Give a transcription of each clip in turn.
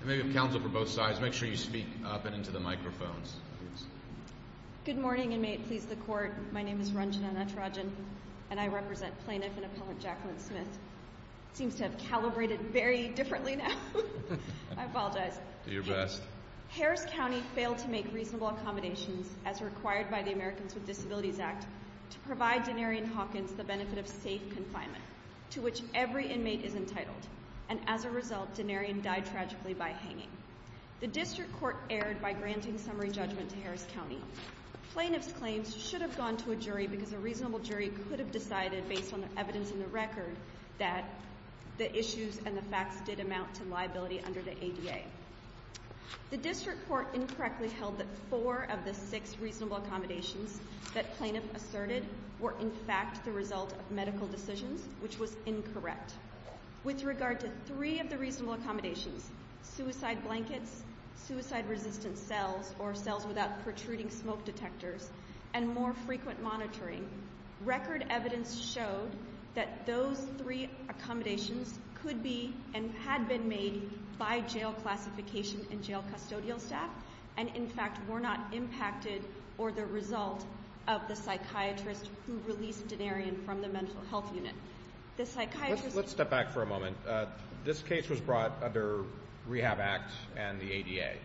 You may have counsel for both sides. Make sure you speak up and into the microphones. Good morning, inmate. Please, the court. My name is Ranjana Natarajan, and I represent plaintiff and appellant Jacqueline Smith. Seems to have calibrated very differently now. I apologize. Do your best. Harris County failed to make reasonable accommodations as required by the Americans with Disabilities Act to provide Denarion Hawkins the benefit of safe confinement, to which every inmate is entitled. And as a result, Denarion died tragically by hanging. The district court erred by granting summary judgment to Harris County. Plaintiff's claims should have gone to a jury because a reasonable jury could have decided, based on the evidence in the record, that the issues and the facts did amount to liability under the ADA. The district court incorrectly held that four of the six reasonable accommodations that plaintiff asserted were in fact the result of medical decisions, which was incorrect. With regard to three of the reasonable accommodations, suicide blankets, suicide-resistant cells or cells without protruding smoke detectors, and more frequent monitoring, record evidence showed that those three accommodations could be and had been made by jail classification and jail custodial staff, and in fact were not impacted or the result of the psychiatrist who released Denarion from the mental health unit. Let's step back for a moment. This case was brought under Rehab Act and the ADA, right?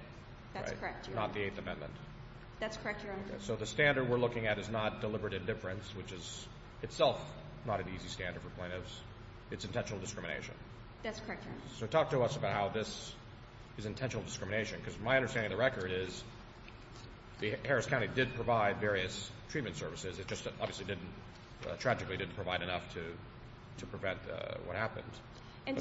That's correct, Your Honor. Not the Eighth Amendment. That's correct, Your Honor. So the standard we're looking at is not deliberate indifference, which is itself not an easy standard for plaintiffs. It's intentional discrimination. That's correct, Your Honor. So talk to us about how this is intentional discrimination, because my understanding of the record is Harris County did provide various treatment services. It just obviously tragically didn't provide enough to prevent what happened.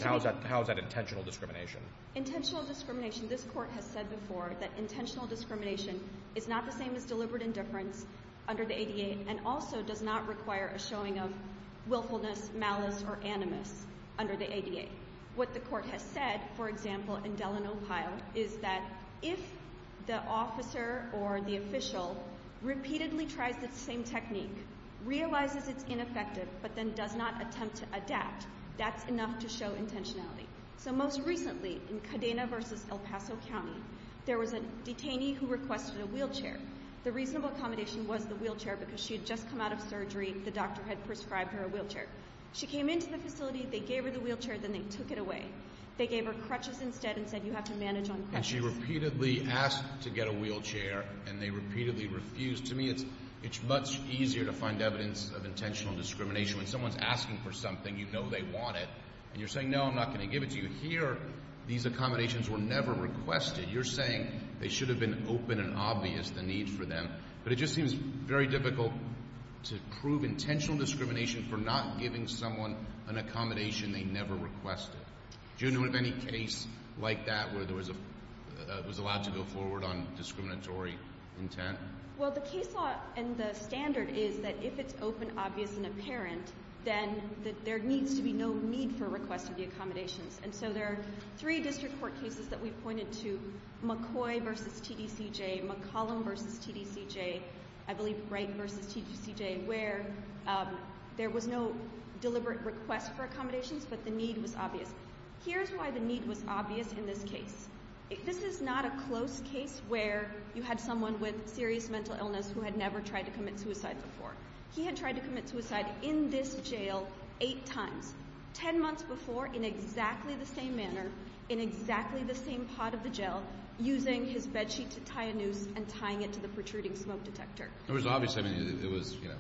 How is that intentional discrimination? Intentional discrimination, this Court has said before that intentional discrimination is not the same as deliberate indifference under the ADA and also does not require a showing of willfulness, malice, or animus under the ADA. What the Court has said, for example, in Dellen, Ohio, is that if the officer or the official repeatedly tries the same technique, realizes it's ineffective, but then does not attempt to adapt, that's enough to show intentionality. So most recently in Cadena v. El Paso County, there was a detainee who requested a wheelchair. The reasonable accommodation was the wheelchair because she had just come out of surgery. The doctor had prescribed her a wheelchair. She came into the facility, they gave her the wheelchair, then they took it away. They gave her crutches instead and said, you have to manage on crutches. And she repeatedly asked to get a wheelchair, and they repeatedly refused. To me, it's much easier to find evidence of intentional discrimination. When someone's asking for something, you know they want it, and you're saying, no, I'm not going to give it to you. Here, these accommodations were never requested. You're saying they should have been open and obvious, the need for them. But it just seems very difficult to prove intentional discrimination for not giving someone an accommodation they never requested. Do you know of any case like that where it was allowed to go forward on discriminatory intent? Well, the case law and the standard is that if it's open, obvious, and apparent, then there needs to be no need for requesting the accommodations. And so there are three district court cases that we've pointed to, McCoy v. TDCJ, McCollum v. TDCJ, I believe Wright v. TDCJ, where there was no deliberate request for accommodations, but the need was obvious. Here's why the need was obvious in this case. This is not a close case where you had someone with serious mental illness who had never tried to commit suicide before. He had tried to commit suicide in this jail eight times. Ten months before, in exactly the same manner, in exactly the same pot of the jail, using his bed sheet to tie a noose and tying it to the protruding smoke detector. It was obvious. I mean, it was, you know,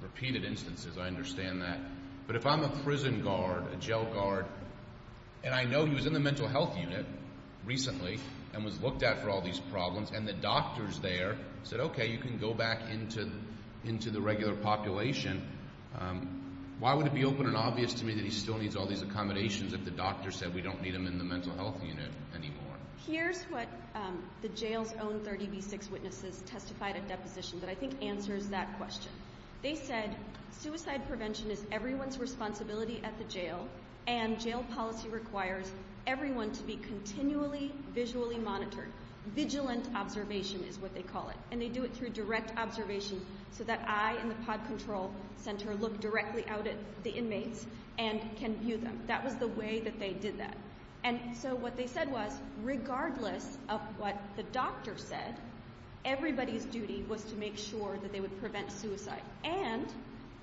repeated instances. I understand that. But if I'm a prison guard, a jail guard, and I know he was in the mental health unit recently and was looked at for all these problems, and the doctors there said, okay, you can go back into the regular population, why would it be open and obvious to me that he still needs all these accommodations if the doctor said we don't need him in the mental health unit anymore? Here's what the jail's own 30B6 witnesses testified at deposition that I think answers that question. They said, suicide prevention is everyone's responsibility at the jail, and jail policy requires everyone to be continually visually monitored. Vigilant observation is what they call it. And they do it through direct observation so that I in the pod control center look directly out at the inmates and can view them. That was the way that they did that. And so what they said was, regardless of what the doctor said, everybody's duty was to make sure that they would prevent suicide. And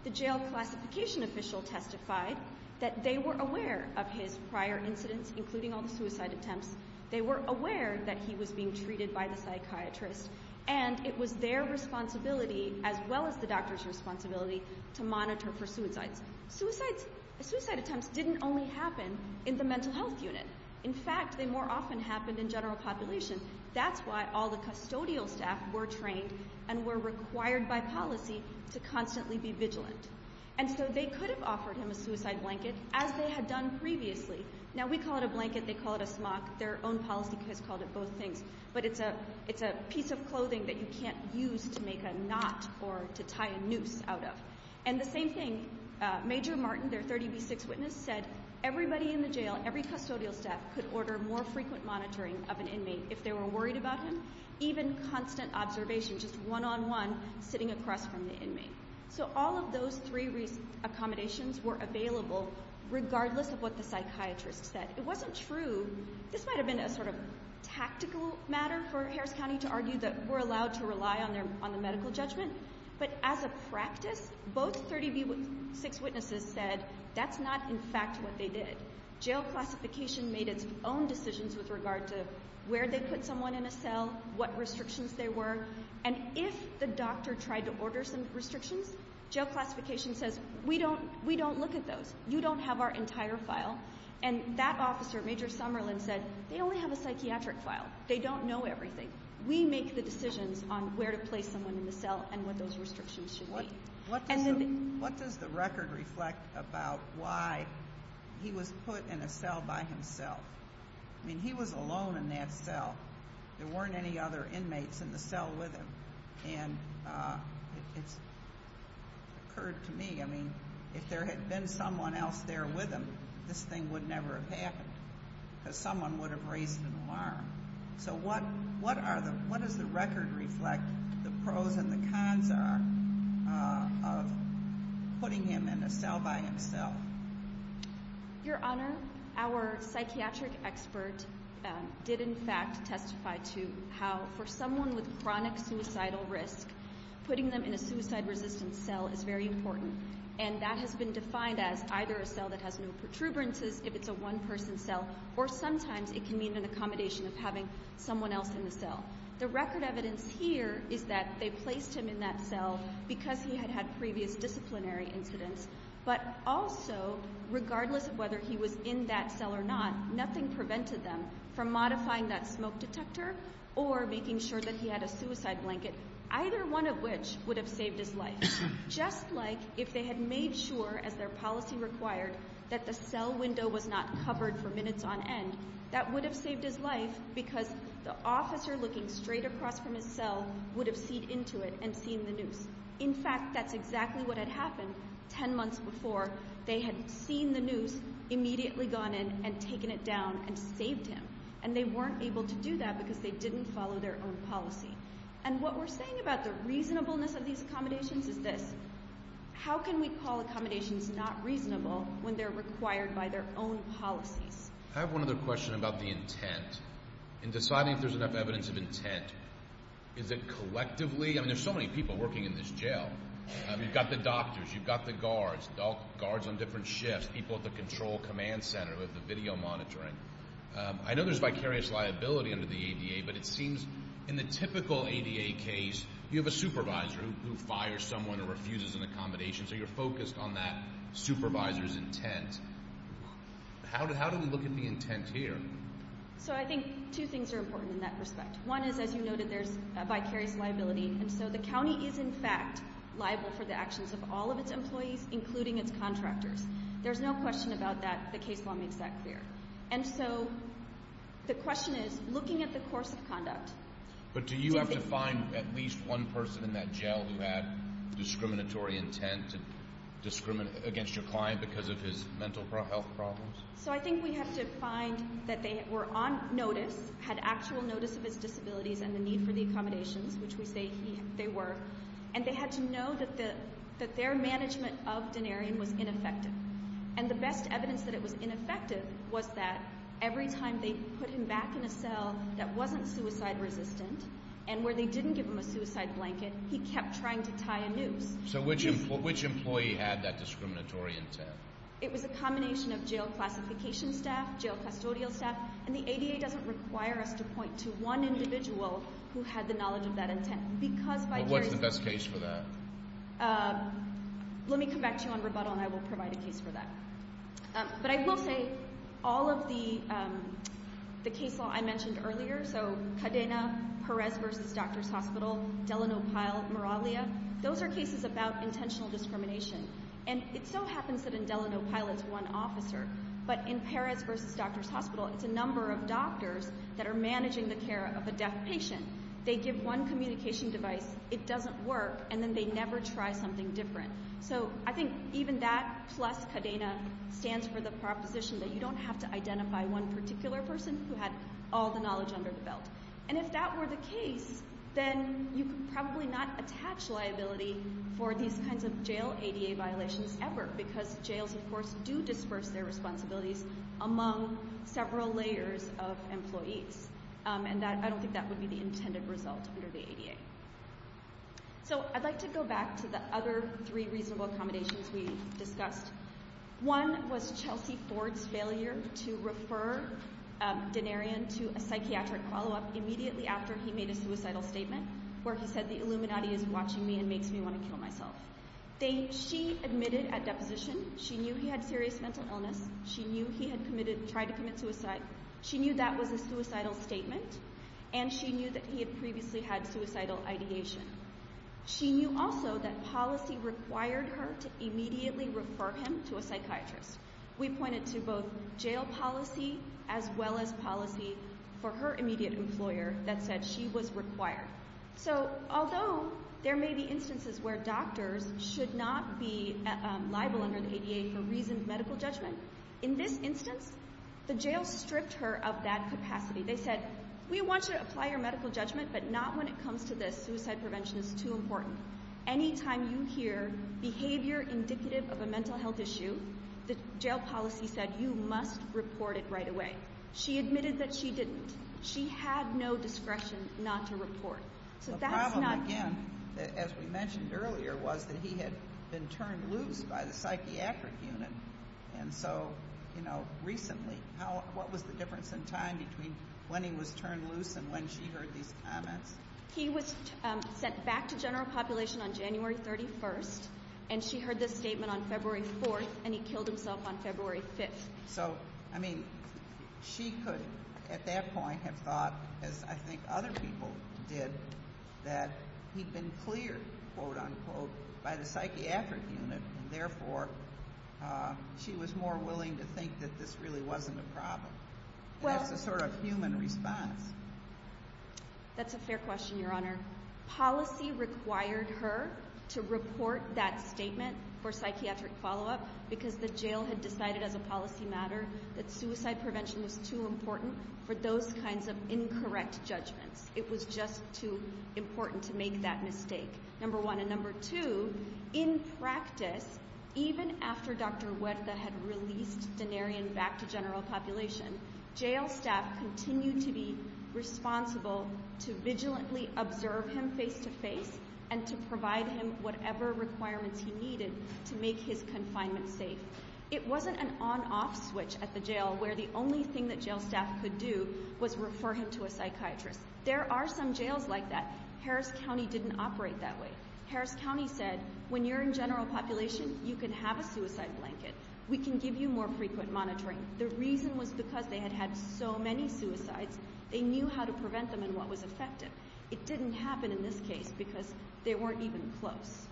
the jail classification official testified that they were aware of his prior incidents, including all the suicide attempts. They were aware that he was being treated by the psychiatrist, and it was their responsibility as well as the doctor's responsibility to monitor for suicides. Suicide attempts didn't only happen in the mental health unit. In fact, they more often happened in general population. That's why all the custodial staff were trained and were required by policy to constantly be vigilant. And so they could have offered him a suicide blanket, as they had done previously. Now, we call it a blanket. They call it a smock. Their own policy has called it both things. But it's a piece of clothing that you can't use to make a knot or to tie a noose out of. And the same thing, Major Martin, their 30B6 witness, said everybody in the jail, every custodial staff, could order more frequent monitoring of an inmate if they were worried about him, even constant observation, just one-on-one, sitting across from the inmate. So all of those three accommodations were available regardless of what the psychiatrist said. It wasn't true. This might have been a sort of tactical matter for Harris County to argue that we're allowed to rely on the medical judgment. But as a practice, both 30B6 witnesses said that's not in fact what they did. Jail classification made its own decisions with regard to where they put someone in a cell, what restrictions there were. And if the doctor tried to order some restrictions, jail classification says we don't look at those. You don't have our entire file. And that officer, Major Summerlin, said they only have a psychiatric file. They don't know everything. We make the decisions on where to place someone in the cell and what those restrictions should be. What does the record reflect about why he was put in a cell by himself? I mean, he was alone in that cell. There weren't any other inmates in the cell with him. And it's occurred to me, I mean, if there had been someone else there with him, this thing would never have happened because someone would have raised an alarm. So what does the record reflect the pros and the cons are of putting him in a cell by himself? Your Honor, our psychiatric expert did in fact testify to how for someone with chronic suicidal risk, putting them in a suicide-resistant cell is very important. And that has been defined as either a cell that has no protuberances, if it's a one-person cell, or sometimes it can mean an accommodation of having someone else in the cell. The record evidence here is that they placed him in that cell because he had had previous disciplinary incidents. But also, regardless of whether he was in that cell or not, nothing prevented them from modifying that smoke detector or making sure that he had a suicide blanket, either one of which would have saved his life. Just like if they had made sure, as their policy required, that the cell window was not covered for minutes on end, that would have saved his life because the officer looking straight across from his cell would have seen into it and seen the noose. In fact, that's exactly what had happened ten months before. They had seen the noose, immediately gone in and taken it down and saved him. And they weren't able to do that because they didn't follow their own policy. And what we're saying about the reasonableness of these accommodations is this. How can we call accommodations not reasonable when they're required by their own policies? I have one other question about the intent. In deciding if there's enough evidence of intent, is it collectively? I mean, there's so many people working in this jail. You've got the doctors, you've got the guards, guards on different shifts, people at the control command center who have the video monitoring. I know there's vicarious liability under the ADA, but it seems in the typical ADA case, you have a supervisor who fires someone or refuses an accommodation, so you're focused on that supervisor's intent. How do we look at the intent here? So I think two things are important in that respect. One is, as you noted, there's vicarious liability, and so the county is, in fact, liable for the actions of all of its employees, including its contractors. There's no question about that. The case law makes that clear. And so the question is, looking at the course of conduct. But do you have to find at least one person in that jail who had discriminatory intent against your client because of his mental health problems? So I think we have to find that they were on notice, had actual notice of his disabilities and the need for the accommodations, which we say they were, and they had to know that their management of Denarian was ineffective. And the best evidence that it was ineffective was that every time they put him back in a cell that wasn't suicide-resistant and where they didn't give him a suicide blanket, he kept trying to tie a noose. So which employee had that discriminatory intent? It was a combination of jail classification staff, jail custodial staff, and the ADA doesn't require us to point to one individual who had the knowledge of that intent What's the best case for that? Let me come back to you on rebuttal and I will provide a case for that. But I will say all of the case law I mentioned earlier, so Cadena, Perez v. Doctors' Hospital, Delano Pyle, Moralia, those are cases about intentional discrimination. And it so happens that in Delano Pyle it's one officer, but in Perez v. Doctors' Hospital it's a number of doctors that are managing the care of a deaf patient. They give one communication device, it doesn't work, and then they never try something different. So I think even that plus Cadena stands for the proposition that you don't have to identify one particular person who had all the knowledge under the belt. And if that were the case, then you could probably not attach liability for these kinds of jail ADA violations ever, because jails, of course, do disperse their responsibilities among several layers of employees. And I don't think that would be the intended result under the ADA. So I'd like to go back to the other three reasonable accommodations we discussed. One was Chelsea Ford's failure to refer Denarion to a psychiatric follow-up immediately after he made a suicidal statement, where he said the Illuminati is watching me and makes me want to kill myself. She admitted at deposition she knew he had serious mental illness, she knew he had tried to commit suicide, she knew that was a suicidal statement, and she knew that he had previously had suicidal ideation. She knew also that policy required her to immediately refer him to a psychiatrist. We pointed to both jail policy as well as policy for her immediate employer that said she was required. So although there may be instances where doctors should not be liable under the ADA for reason of medical judgment, in this instance, the jail stripped her of that capacity. They said, we want you to apply your medical judgment, but not when it comes to this. Suicide prevention is too important. Any time you hear behavior indicative of a mental health issue, the jail policy said you must report it right away. She admitted that she didn't. She had no discretion not to report. So that's not true. The problem, again, as we mentioned earlier, was that he had been turned loose by the psychiatric unit, and so, you know, recently, what was the difference in time between when he was turned loose and when she heard these comments? He was sent back to general population on January 31st, and she heard this statement on February 4th, and he killed himself on February 5th. So, I mean, she could at that point have thought, as I think other people did, that he'd been cleared, quote, unquote, by the psychiatric unit, and therefore she was more willing to think that this really wasn't a problem. That's the sort of human response. That's a fair question, Your Honor. Policy required her to report that statement for psychiatric follow-up because the jail had decided as a policy matter that suicide prevention was too important for those kinds of incorrect judgments. It was just too important to make that mistake, number one. And number two, in practice, even after Dr. Huerta had released Denarian back to general population, jail staff continued to be responsible to vigilantly observe him face to face and to provide him whatever requirements he needed to make his confinement safe. It wasn't an on-off switch at the jail where the only thing that jail staff could do was refer him to a psychiatrist. There are some jails like that. Harris County didn't operate that way. Harris County said, when you're in general population, you can have a suicide blanket. We can give you more frequent monitoring. The reason was because they had had so many suicides, they knew how to prevent them and what was effective. It didn't happen in this case because they weren't even close.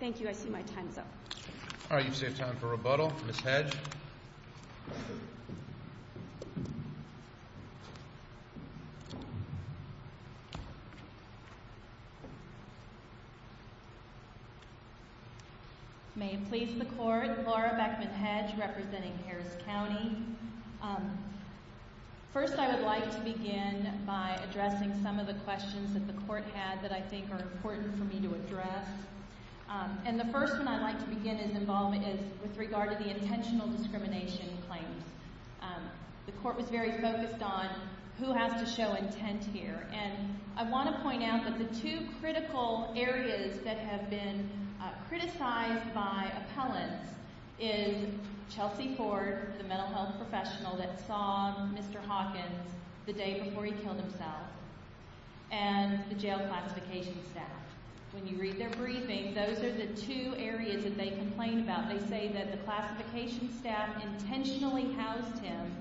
Thank you. I see my time's up. All right, you've saved time for rebuttal. Ms. Hedge. Thank you. May it please the Court, Laura Beckman Hedge representing Harris County. First, I would like to begin by addressing some of the questions that the Court had that I think are important for me to address. And the first one I'd like to begin in involvement is with regard to the intentional discrimination claims. The Court was very focused on who has to show intent here. And I want to point out that the two critical areas that have been criticized by appellants is Chelsea Ford, the mental health professional that saw Mr. Hawkins the day before he killed himself, and the jail classification staff. When you read their briefings, those are the two areas that they complained about. They say that the classification staff intentionally housed him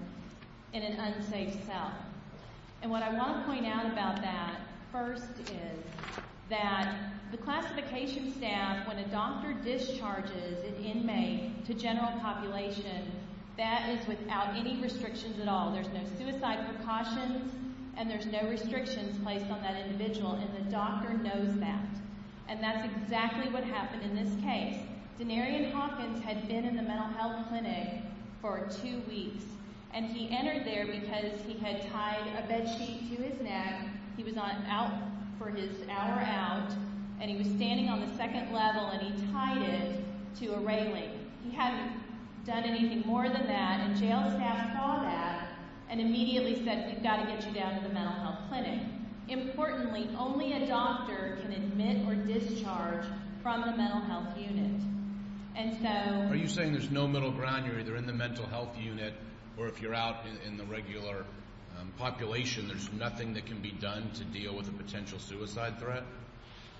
in an unsafe cell. And what I want to point out about that first is that the classification staff, when a doctor discharges an inmate to general population, that is without any restrictions at all. There's no suicide precautions, and there's no restrictions placed on that individual, and the doctor knows that. And that's exactly what happened in this case. Denarian Hawkins had been in the mental health clinic for two weeks, and he entered there because he had tied a bed sheet to his neck. He was out for his hour out, and he was standing on the second level, and he tied it to a railing. He hadn't done anything more than that, and jail staff saw that and immediately said, we've got to get you down to the mental health clinic. Importantly, only a doctor can admit or discharge from the mental health unit. Are you saying there's no middle ground? You're either in the mental health unit, or if you're out in the regular population, there's nothing that can be done to deal with a potential suicide threat?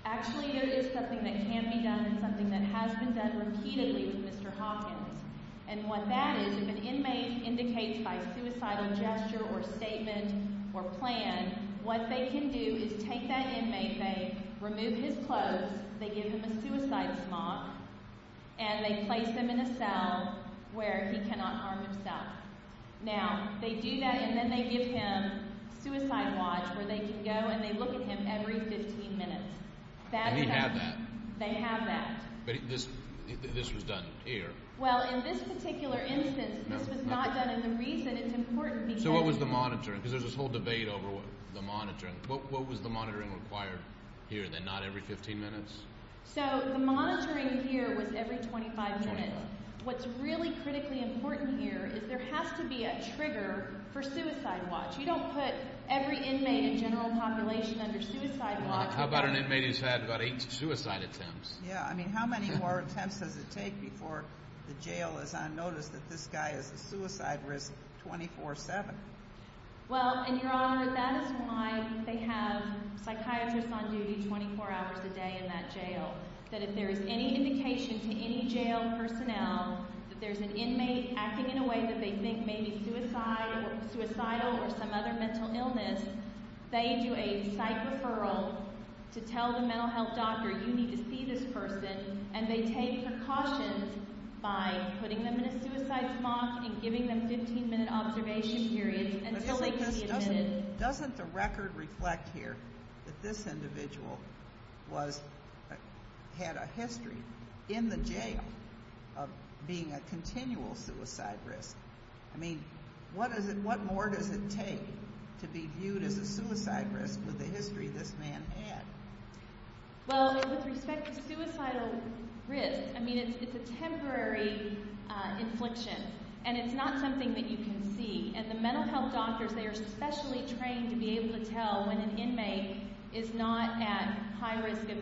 Actually, there is something that can be done and something that has been done repeatedly with Mr. Hawkins. And what that is, if an inmate indicates by suicidal gesture or statement or plan, what they can do is take that inmate, they remove his clothes, they give him a suicide smock, and they place him in a cell where he cannot arm himself. Now, they do that, and then they give him a suicide watch where they can go and they look at him every 15 minutes. And he had that? They have that. But this was done here? Well, in this particular instance, this was not done. And the reason it's important because— What was the monitoring required here, then, not every 15 minutes? So the monitoring here was every 25 minutes. What's really critically important here is there has to be a trigger for suicide watch. You don't put every inmate in general population under suicide watch. How about an inmate who's had about eight suicide attempts? Yeah, I mean, how many more attempts does it take before the jail is on notice that this guy is a suicide risk 24-7? Well, and, Your Honor, that is why they have psychiatrists on duty 24 hours a day in that jail, that if there is any indication to any jail personnel that there's an inmate acting in a way that they think may be suicidal or some other mental illness, they do a psych referral to tell the mental health doctor, You need to see this person. And they take precautions by putting them in a suicide smock and giving them 15-minute observation periods until they can be admitted. Doesn't the record reflect here that this individual had a history in the jail of being a continual suicide risk? I mean, what more does it take to be viewed as a suicide risk with the history this man had? Well, with respect to suicidal risk, I mean, it's a temporary infliction. And it's not something that you can see. And the mental health doctors, they are specially trained to be able to tell when an inmate is not at high risk of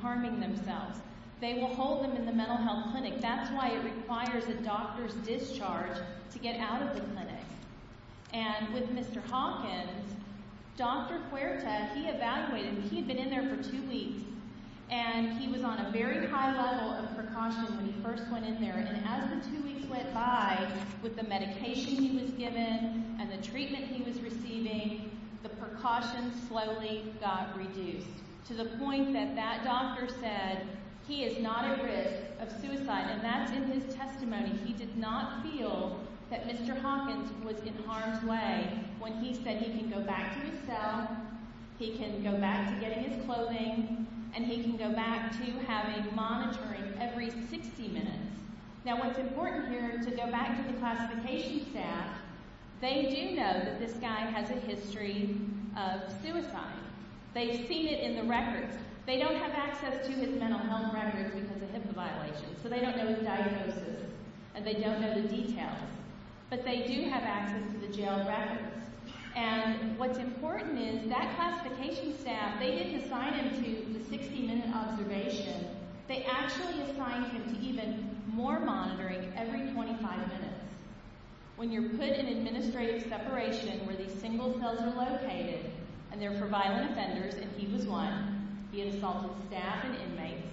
harming themselves. They will hold them in the mental health clinic. That's why it requires a doctor's discharge to get out of the clinic. And with Mr. Hawkins, Dr. Huerta, he evaluated, he had been in there for two weeks, and he was on a very high level of precaution when he first went in there. And as the two weeks went by, with the medication he was given and the treatment he was receiving, the precautions slowly got reduced to the point that that doctor said he is not at risk of suicide. And that's in his testimony. He did not feel that Mr. Hawkins was in harm's way when he said he can go back to his cell, he can go back to getting his clothing, and he can go back to having monitoring every 60 minutes. Now what's important here, to go back to the classification staff, they do know that this guy has a history of suicide. They've seen it in the records. They don't have access to his mental health records because of HIPAA violations, so they don't know his diagnosis, and they don't know the details. But they do have access to the jail records. And what's important is that classification staff, they didn't assign him to the 60-minute observation. They actually assigned him to even more monitoring every 25 minutes. When you're put in administrative separation where these single cells are located, and they're for violent offenders, and he was one, the assaulted staff and inmates,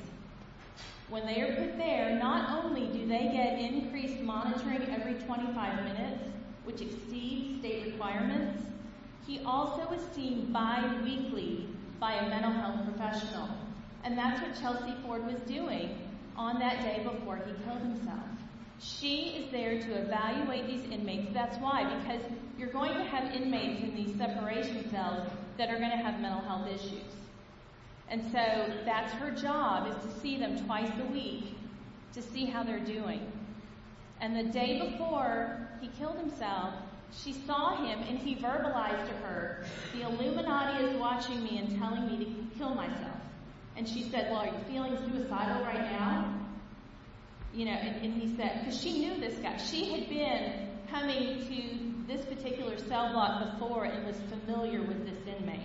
when they are put there, not only do they get increased monitoring every 25 minutes, which exceeds state requirements, he also is seen bi-weekly by a mental health professional. And that's what Chelsea Ford was doing on that day before he killed himself. She is there to evaluate these inmates. That's why, because you're going to have inmates in these separation cells that are going to have mental health issues. And so that's her job, is to see them twice a week to see how they're doing. And the day before he killed himself, she saw him, and he verbalized to her, the Illuminati is watching me and telling me to kill myself. And she said, well, are you feeling suicidal right now? You know, and he said, because she knew this guy. She had been coming to this particular cell block before and was familiar with this inmate.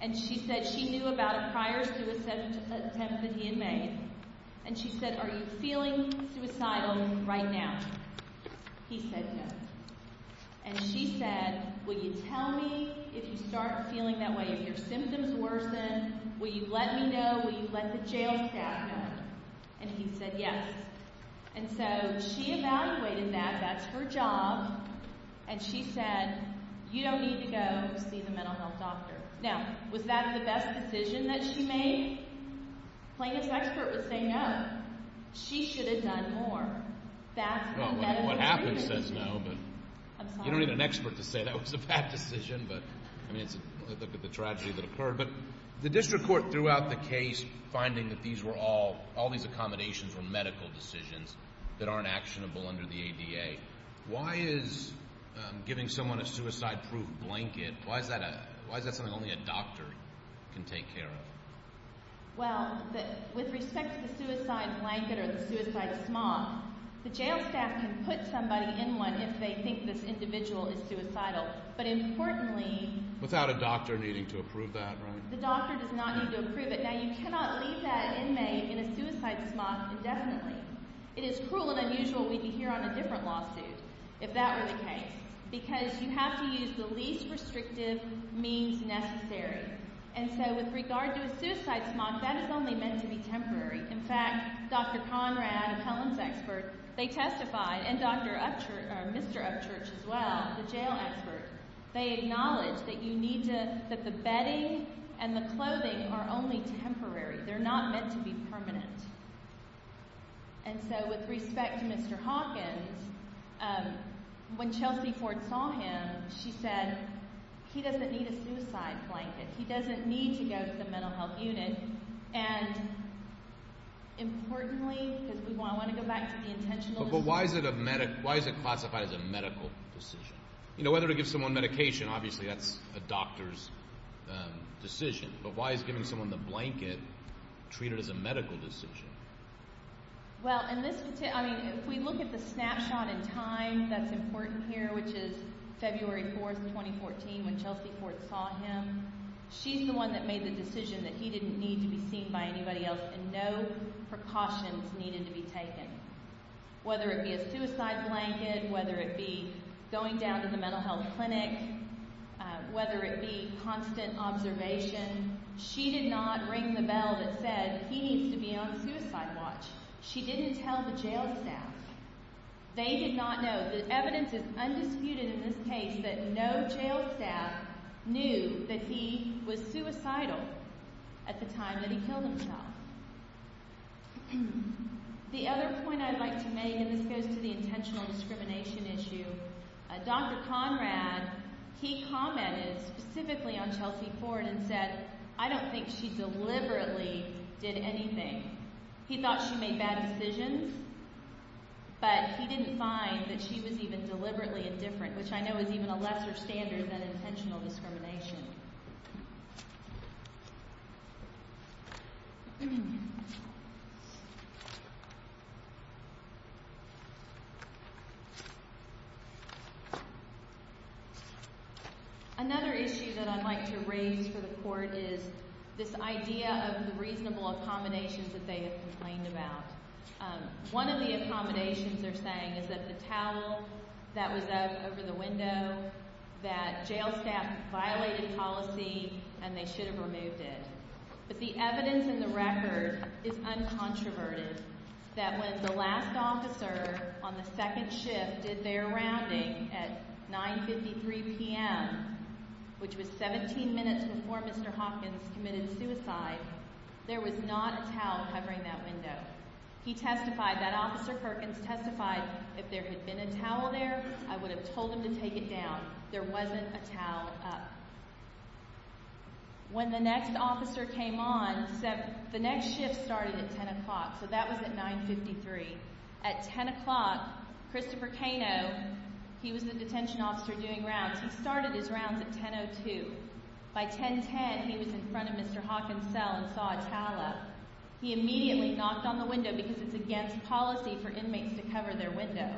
And she said she knew about a prior suicide attempt that he had made. And she said, are you feeling suicidal right now? He said yes. And she said, will you tell me if you start feeling that way, if your symptoms worsen, will you let me know, will you let the jail staff know? And he said yes. And so she evaluated that. That's her job. And she said, you don't need to go see the mental health doctor. Now, was that the best decision that she made? Plaintiff's expert was saying no. She should have done more. What happens says no, but you don't need an expert to say that was a bad decision. But, I mean, look at the tragedy that occurred. But the district court threw out the case, finding that all these accommodations were medical decisions that aren't actionable under the ADA. Why is giving someone a suicide-proof blanket, why is that something only a doctor can take care of? Well, with respect to the suicide blanket or the suicide smock, the jail staff can put somebody in one if they think this individual is suicidal. But importantly— Without a doctor needing to approve that, right? The doctor does not need to approve it. Now, you cannot leave that inmate in a suicide smock indefinitely. It is cruel and unusual we'd be here on a different lawsuit if that were the case. Because you have to use the least restrictive means necessary. And so, with regard to a suicide smock, that is only meant to be temporary. In fact, Dr. Conrad, a Pelham's expert, they testified, and Mr. Upchurch as well, the jail expert, they acknowledged that the bedding and the clothing are only temporary. They're not meant to be permanent. And so, with respect to Mr. Hawkins, when Chelsea Ford saw him, she said, he doesn't need a suicide blanket. He doesn't need to go to the mental health unit. And importantly, because we want to go back to the intentional— But why is it classified as a medical decision? You know, whether to give someone medication, obviously that's a doctor's decision. But why is giving someone the blanket treated as a medical decision? Well, in this—I mean, if we look at the snapshot in time that's important here, which is February 4th, 2014, when Chelsea Ford saw him, she's the one that made the decision that he didn't need to be seen by anybody else and no precautions needed to be taken. Whether it be a suicide blanket, whether it be going down to the mental health clinic, whether it be constant observation, she did not ring the bell that said, he needs to be on suicide watch. She didn't tell the jail staff. They did not know. The evidence is undisputed in this case that no jail staff knew that he was suicidal at the time that he killed himself. The other point I'd like to make, and this goes to the intentional discrimination issue, Dr. Conrad, he commented specifically on Chelsea Ford and said, I don't think she deliberately did anything. He thought she made bad decisions, but he didn't find that she was even deliberately indifferent, which I know is even a lesser standard than intentional discrimination. Another issue that I'd like to raise for the court is this idea of the reasonable accommodations that they have complained about. One of the accommodations they're saying is that the towel that was up over the window, that jail staff violated policy and they should have removed it. But the evidence in the record is uncontroverted, that when the last officer on the second shift did their rounding at 9.53 p.m., which was 17 minutes before Mr. Hopkins committed suicide, there was not a towel covering that window. He testified, that Officer Perkins testified, if there had been a towel there, I would have told him to take it down. There wasn't a towel up. When the next officer came on, the next shift started at 10 o'clock, so that was at 9.53. At 10 o'clock, Christopher Cano, he was the detention officer doing rounds, he started his rounds at 10.02. By 10.10, he was in front of Mr. Hopkins' cell and saw a towel up. He immediately knocked on the window because it's against policy for inmates to cover their window.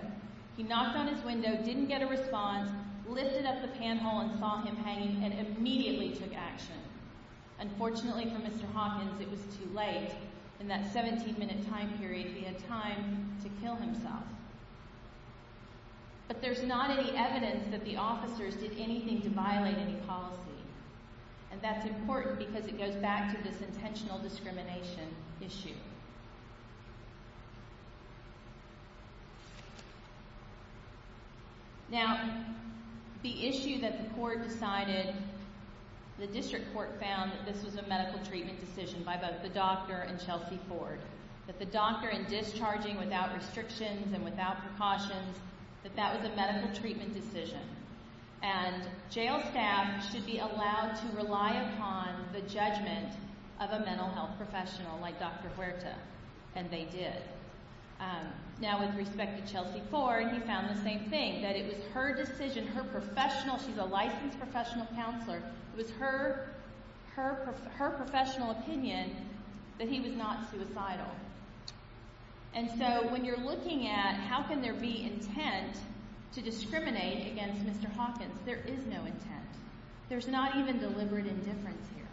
He knocked on his window, didn't get a response, lifted up the panhole and saw him hanging and immediately took action. Unfortunately for Mr. Hopkins, it was too late. In that 17 minute time period, he had time to kill himself. But there's not any evidence that the officers did anything to violate any policy. And that's important because it goes back to this intentional discrimination issue. Now, the issue that the court decided, the district court found, that this was a medical treatment decision by both the doctor and Chelsea Ford. That the doctor, in discharging without restrictions and without precautions, that that was a medical treatment decision. And jail staff should be allowed to rely upon the judgment of a mental health professional like Dr. Huerta. And they did. Now, with respect to Chelsea Ford, he found the same thing. That it was her decision, her professional, she's a licensed professional counselor, it was her professional opinion that he was not suicidal. And so, when you're looking at how can there be intent to discriminate against Mr. Hopkins, there is no intent. There's not even deliberate indifference here.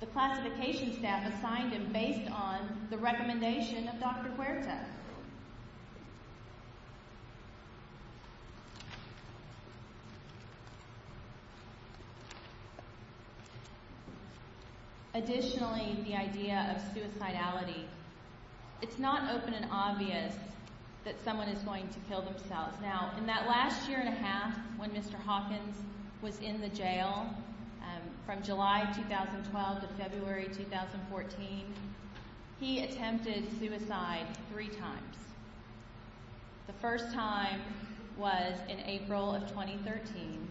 The classification staff assigned him based on the recommendation of Dr. Huerta. Additionally, the idea of suicidality. It's not open and obvious that someone is going to kill themselves. Now, in that last year and a half, when Mr. Hopkins was in the jail, from July 2012 to February 2014, he attempted suicide three times. The first time was in April of 2013,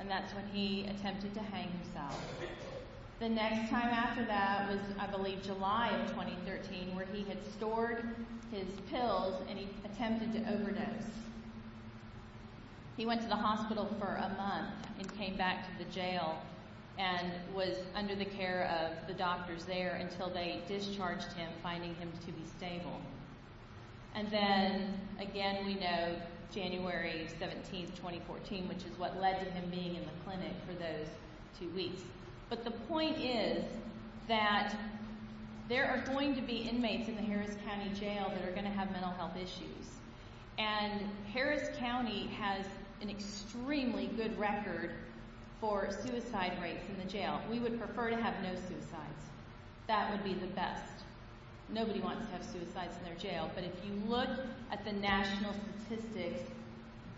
and that's when he attempted to hang himself. The next time after that was, I believe, July of 2013, where he had stored his pills and he attempted to overdose. He went to the hospital for a month and came back to the jail and was under the care of the doctors there until they discharged him, finding him to be stable. And then, again, we know January 17, 2014, which is what led to him being in the clinic for those two weeks. But the point is that there are going to be inmates in the Harris County Jail that are going to have mental health issues, and Harris County has an extremely good record for suicide rates in the jail. We would prefer to have no suicides. That would be the best. Nobody wants to have suicides in their jail, but if you look at the national statistics,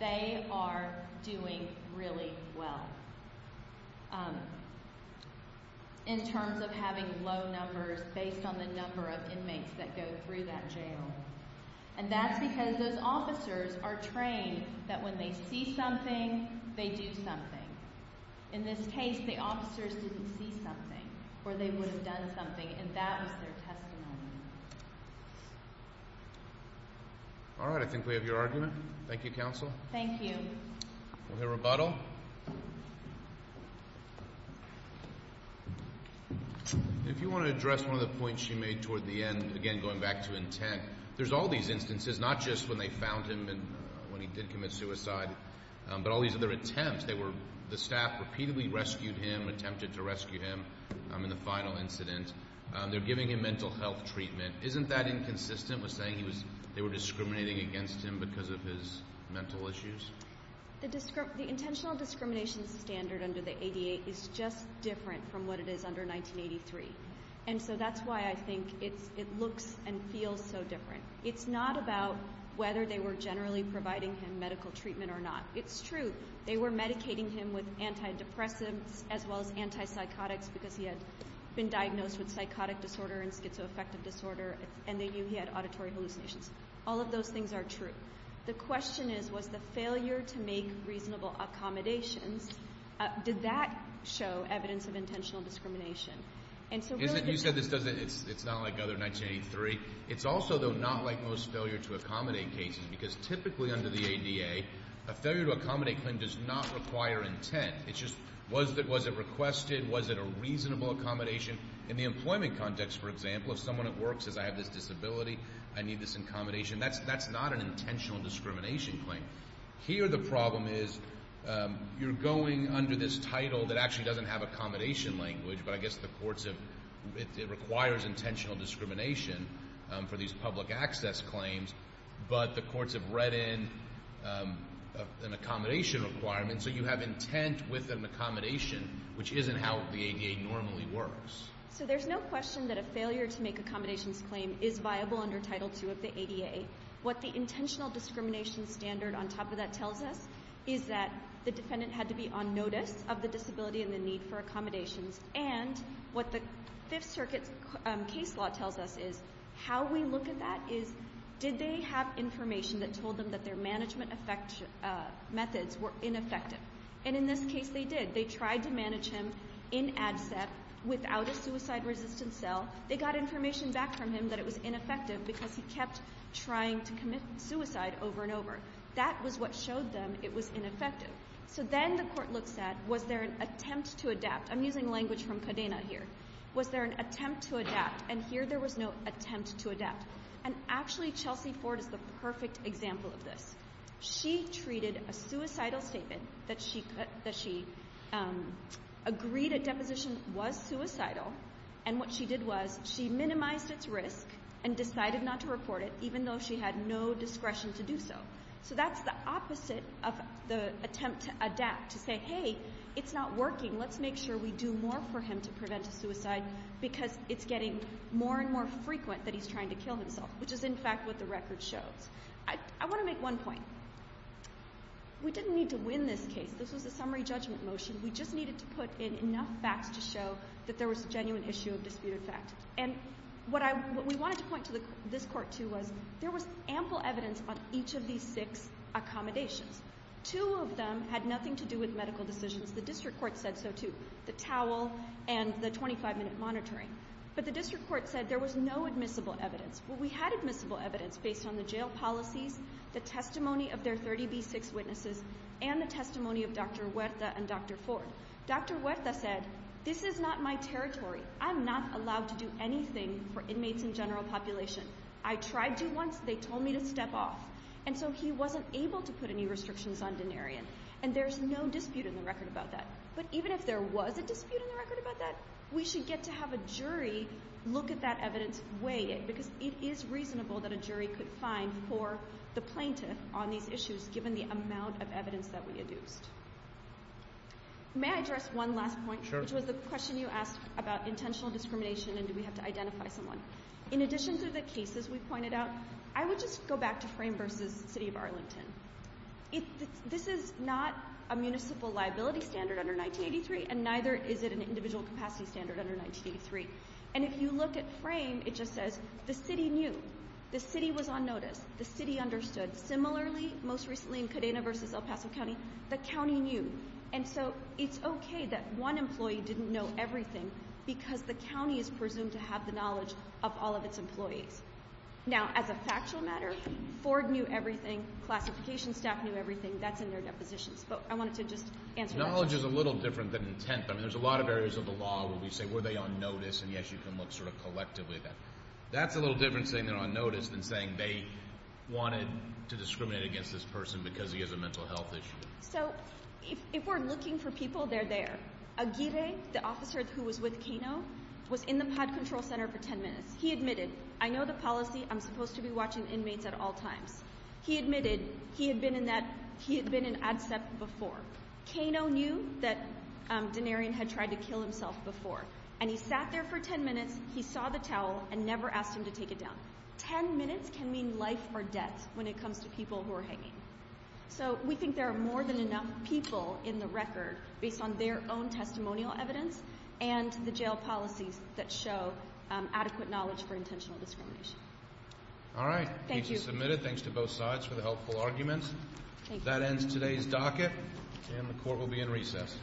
they are doing really well. In terms of having low numbers based on the number of inmates that go through that jail. And that's because those officers are trained that when they see something, they do something. In this case, the officers didn't see something or they would have done something, and that was their testimony. All right, I think we have your argument. Thank you, Counsel. Thank you. We'll hear rebuttal. If you want to address one of the points she made toward the end, again, going back to intent, there's all these instances, not just when they found him when he did commit suicide, but all these other attempts. The staff repeatedly rescued him, attempted to rescue him in the final incident. They're giving him mental health treatment. Isn't that inconsistent with saying they were discriminating against him because of his mental issues? The intentional discrimination standard under the ADA is just different from what it is under 1983. And so that's why I think it looks and feels so different. It's not about whether they were generally providing him medical treatment or not. It's true. They were medicating him with antidepressants as well as antipsychotics because he had been diagnosed with psychotic disorder and schizoaffective disorder, and they knew he had auditory hallucinations. All of those things are true. The question is, was the failure to make reasonable accommodations, did that show evidence of intentional discrimination? You said it's not like other 1983. It's also, though, not like most failure-to-accommodate cases because typically under the ADA, a failure-to-accommodate claim does not require intent. It's just, was it requested? Was it a reasonable accommodation? In the employment context, for example, if someone at work says, I have this disability, I need this accommodation, that's not an intentional discrimination claim. Here the problem is you're going under this title that actually doesn't have accommodation language, but I guess the courts have, it requires intentional discrimination for these public access claims, but the courts have read in an accommodation requirement, and so you have intent with an accommodation, which isn't how the ADA normally works. So there's no question that a failure-to-make-accommodations claim is viable under Title II of the ADA. What the intentional discrimination standard on top of that tells us is that the defendant had to be on notice of the disability and the need for accommodations, and what the Fifth Circuit case law tells us is how we look at that is, did they have information that told them that their management methods were ineffective? And in this case they did. They tried to manage him in ADCEP without a suicide-resistant cell. They got information back from him that it was ineffective because he kept trying to commit suicide over and over. That was what showed them it was ineffective. So then the court looks at, was there an attempt to adapt? I'm using language from Cadena here. Was there an attempt to adapt? And here there was no attempt to adapt. And actually Chelsea Ford is the perfect example of this. She treated a suicidal statement that she agreed at deposition was suicidal, and what she did was she minimized its risk and decided not to report it, even though she had no discretion to do so. So that's the opposite of the attempt to adapt, to say, hey, it's not working. Let's make sure we do more for him to prevent a suicide because it's getting more and more frequent that he's trying to kill himself, which is in fact what the record shows. I want to make one point. We didn't need to win this case. This was a summary judgment motion. We just needed to put in enough facts to show that there was a genuine issue of disputed fact. And what we wanted to point to this court, too, was there was ample evidence on each of these six accommodations. Two of them had nothing to do with medical decisions. The district court said so, too. The towel and the 25-minute monitoring. But the district court said there was no admissible evidence. Well, we had admissible evidence based on the jail policies, the testimony of their 30B6 witnesses, and the testimony of Dr. Huerta and Dr. Ford. Dr. Huerta said, this is not my territory. I'm not allowed to do anything for inmates in general population. I tried to once. They told me to step off. And so he wasn't able to put any restrictions on Denarian, and there's no dispute in the record about that. But even if there was a dispute in the record about that, we should get to have a jury look at that evidence, weigh it, because it is reasonable that a jury could find for the plaintiff on these issues given the amount of evidence that we had used. May I address one last point? Sure. Which was the question you asked about intentional discrimination and do we have to identify someone. In addition to the cases we pointed out, I would just go back to Frame v. City of Arlington. This is not a municipal liability standard under 1983, and neither is it an individual capacity standard under 1983. And if you look at Frame, it just says the city knew. The city was on notice. The city understood. Similarly, most recently in Cadena v. El Paso County, the county knew. And so it's okay that one employee didn't know everything because the county is presumed to have the knowledge of all of its employees. Now, as a factual matter, Ford knew everything. Classification staff knew everything. That's in their depositions. But I wanted to just answer that question. Knowledge is a little different than intent. I mean, there's a lot of areas of the law where we say, were they on notice, and yes, you can look sort of collectively at that. That's a little different saying they're on notice than saying they wanted to discriminate against this person because he has a mental health issue. So if we're looking for people, they're there. Aguirre, the officer who was with Kano, was in the pod control center for 10 minutes. He admitted, I know the policy, I'm supposed to be watching inmates at all times. He admitted he had been in ADCEP before. Kano knew that Denarian had tried to kill himself before, and he sat there for 10 minutes, he saw the towel, and never asked him to take it down. Ten minutes can mean life or death when it comes to people who are hanging. So we think there are more than enough people in the record based on their own testimonial evidence and the jail policies that show adequate knowledge for intentional discrimination. All right. Thank you. The case is submitted. Thanks to both sides for the helpful arguments. That ends today's docket, and the court will be in recess.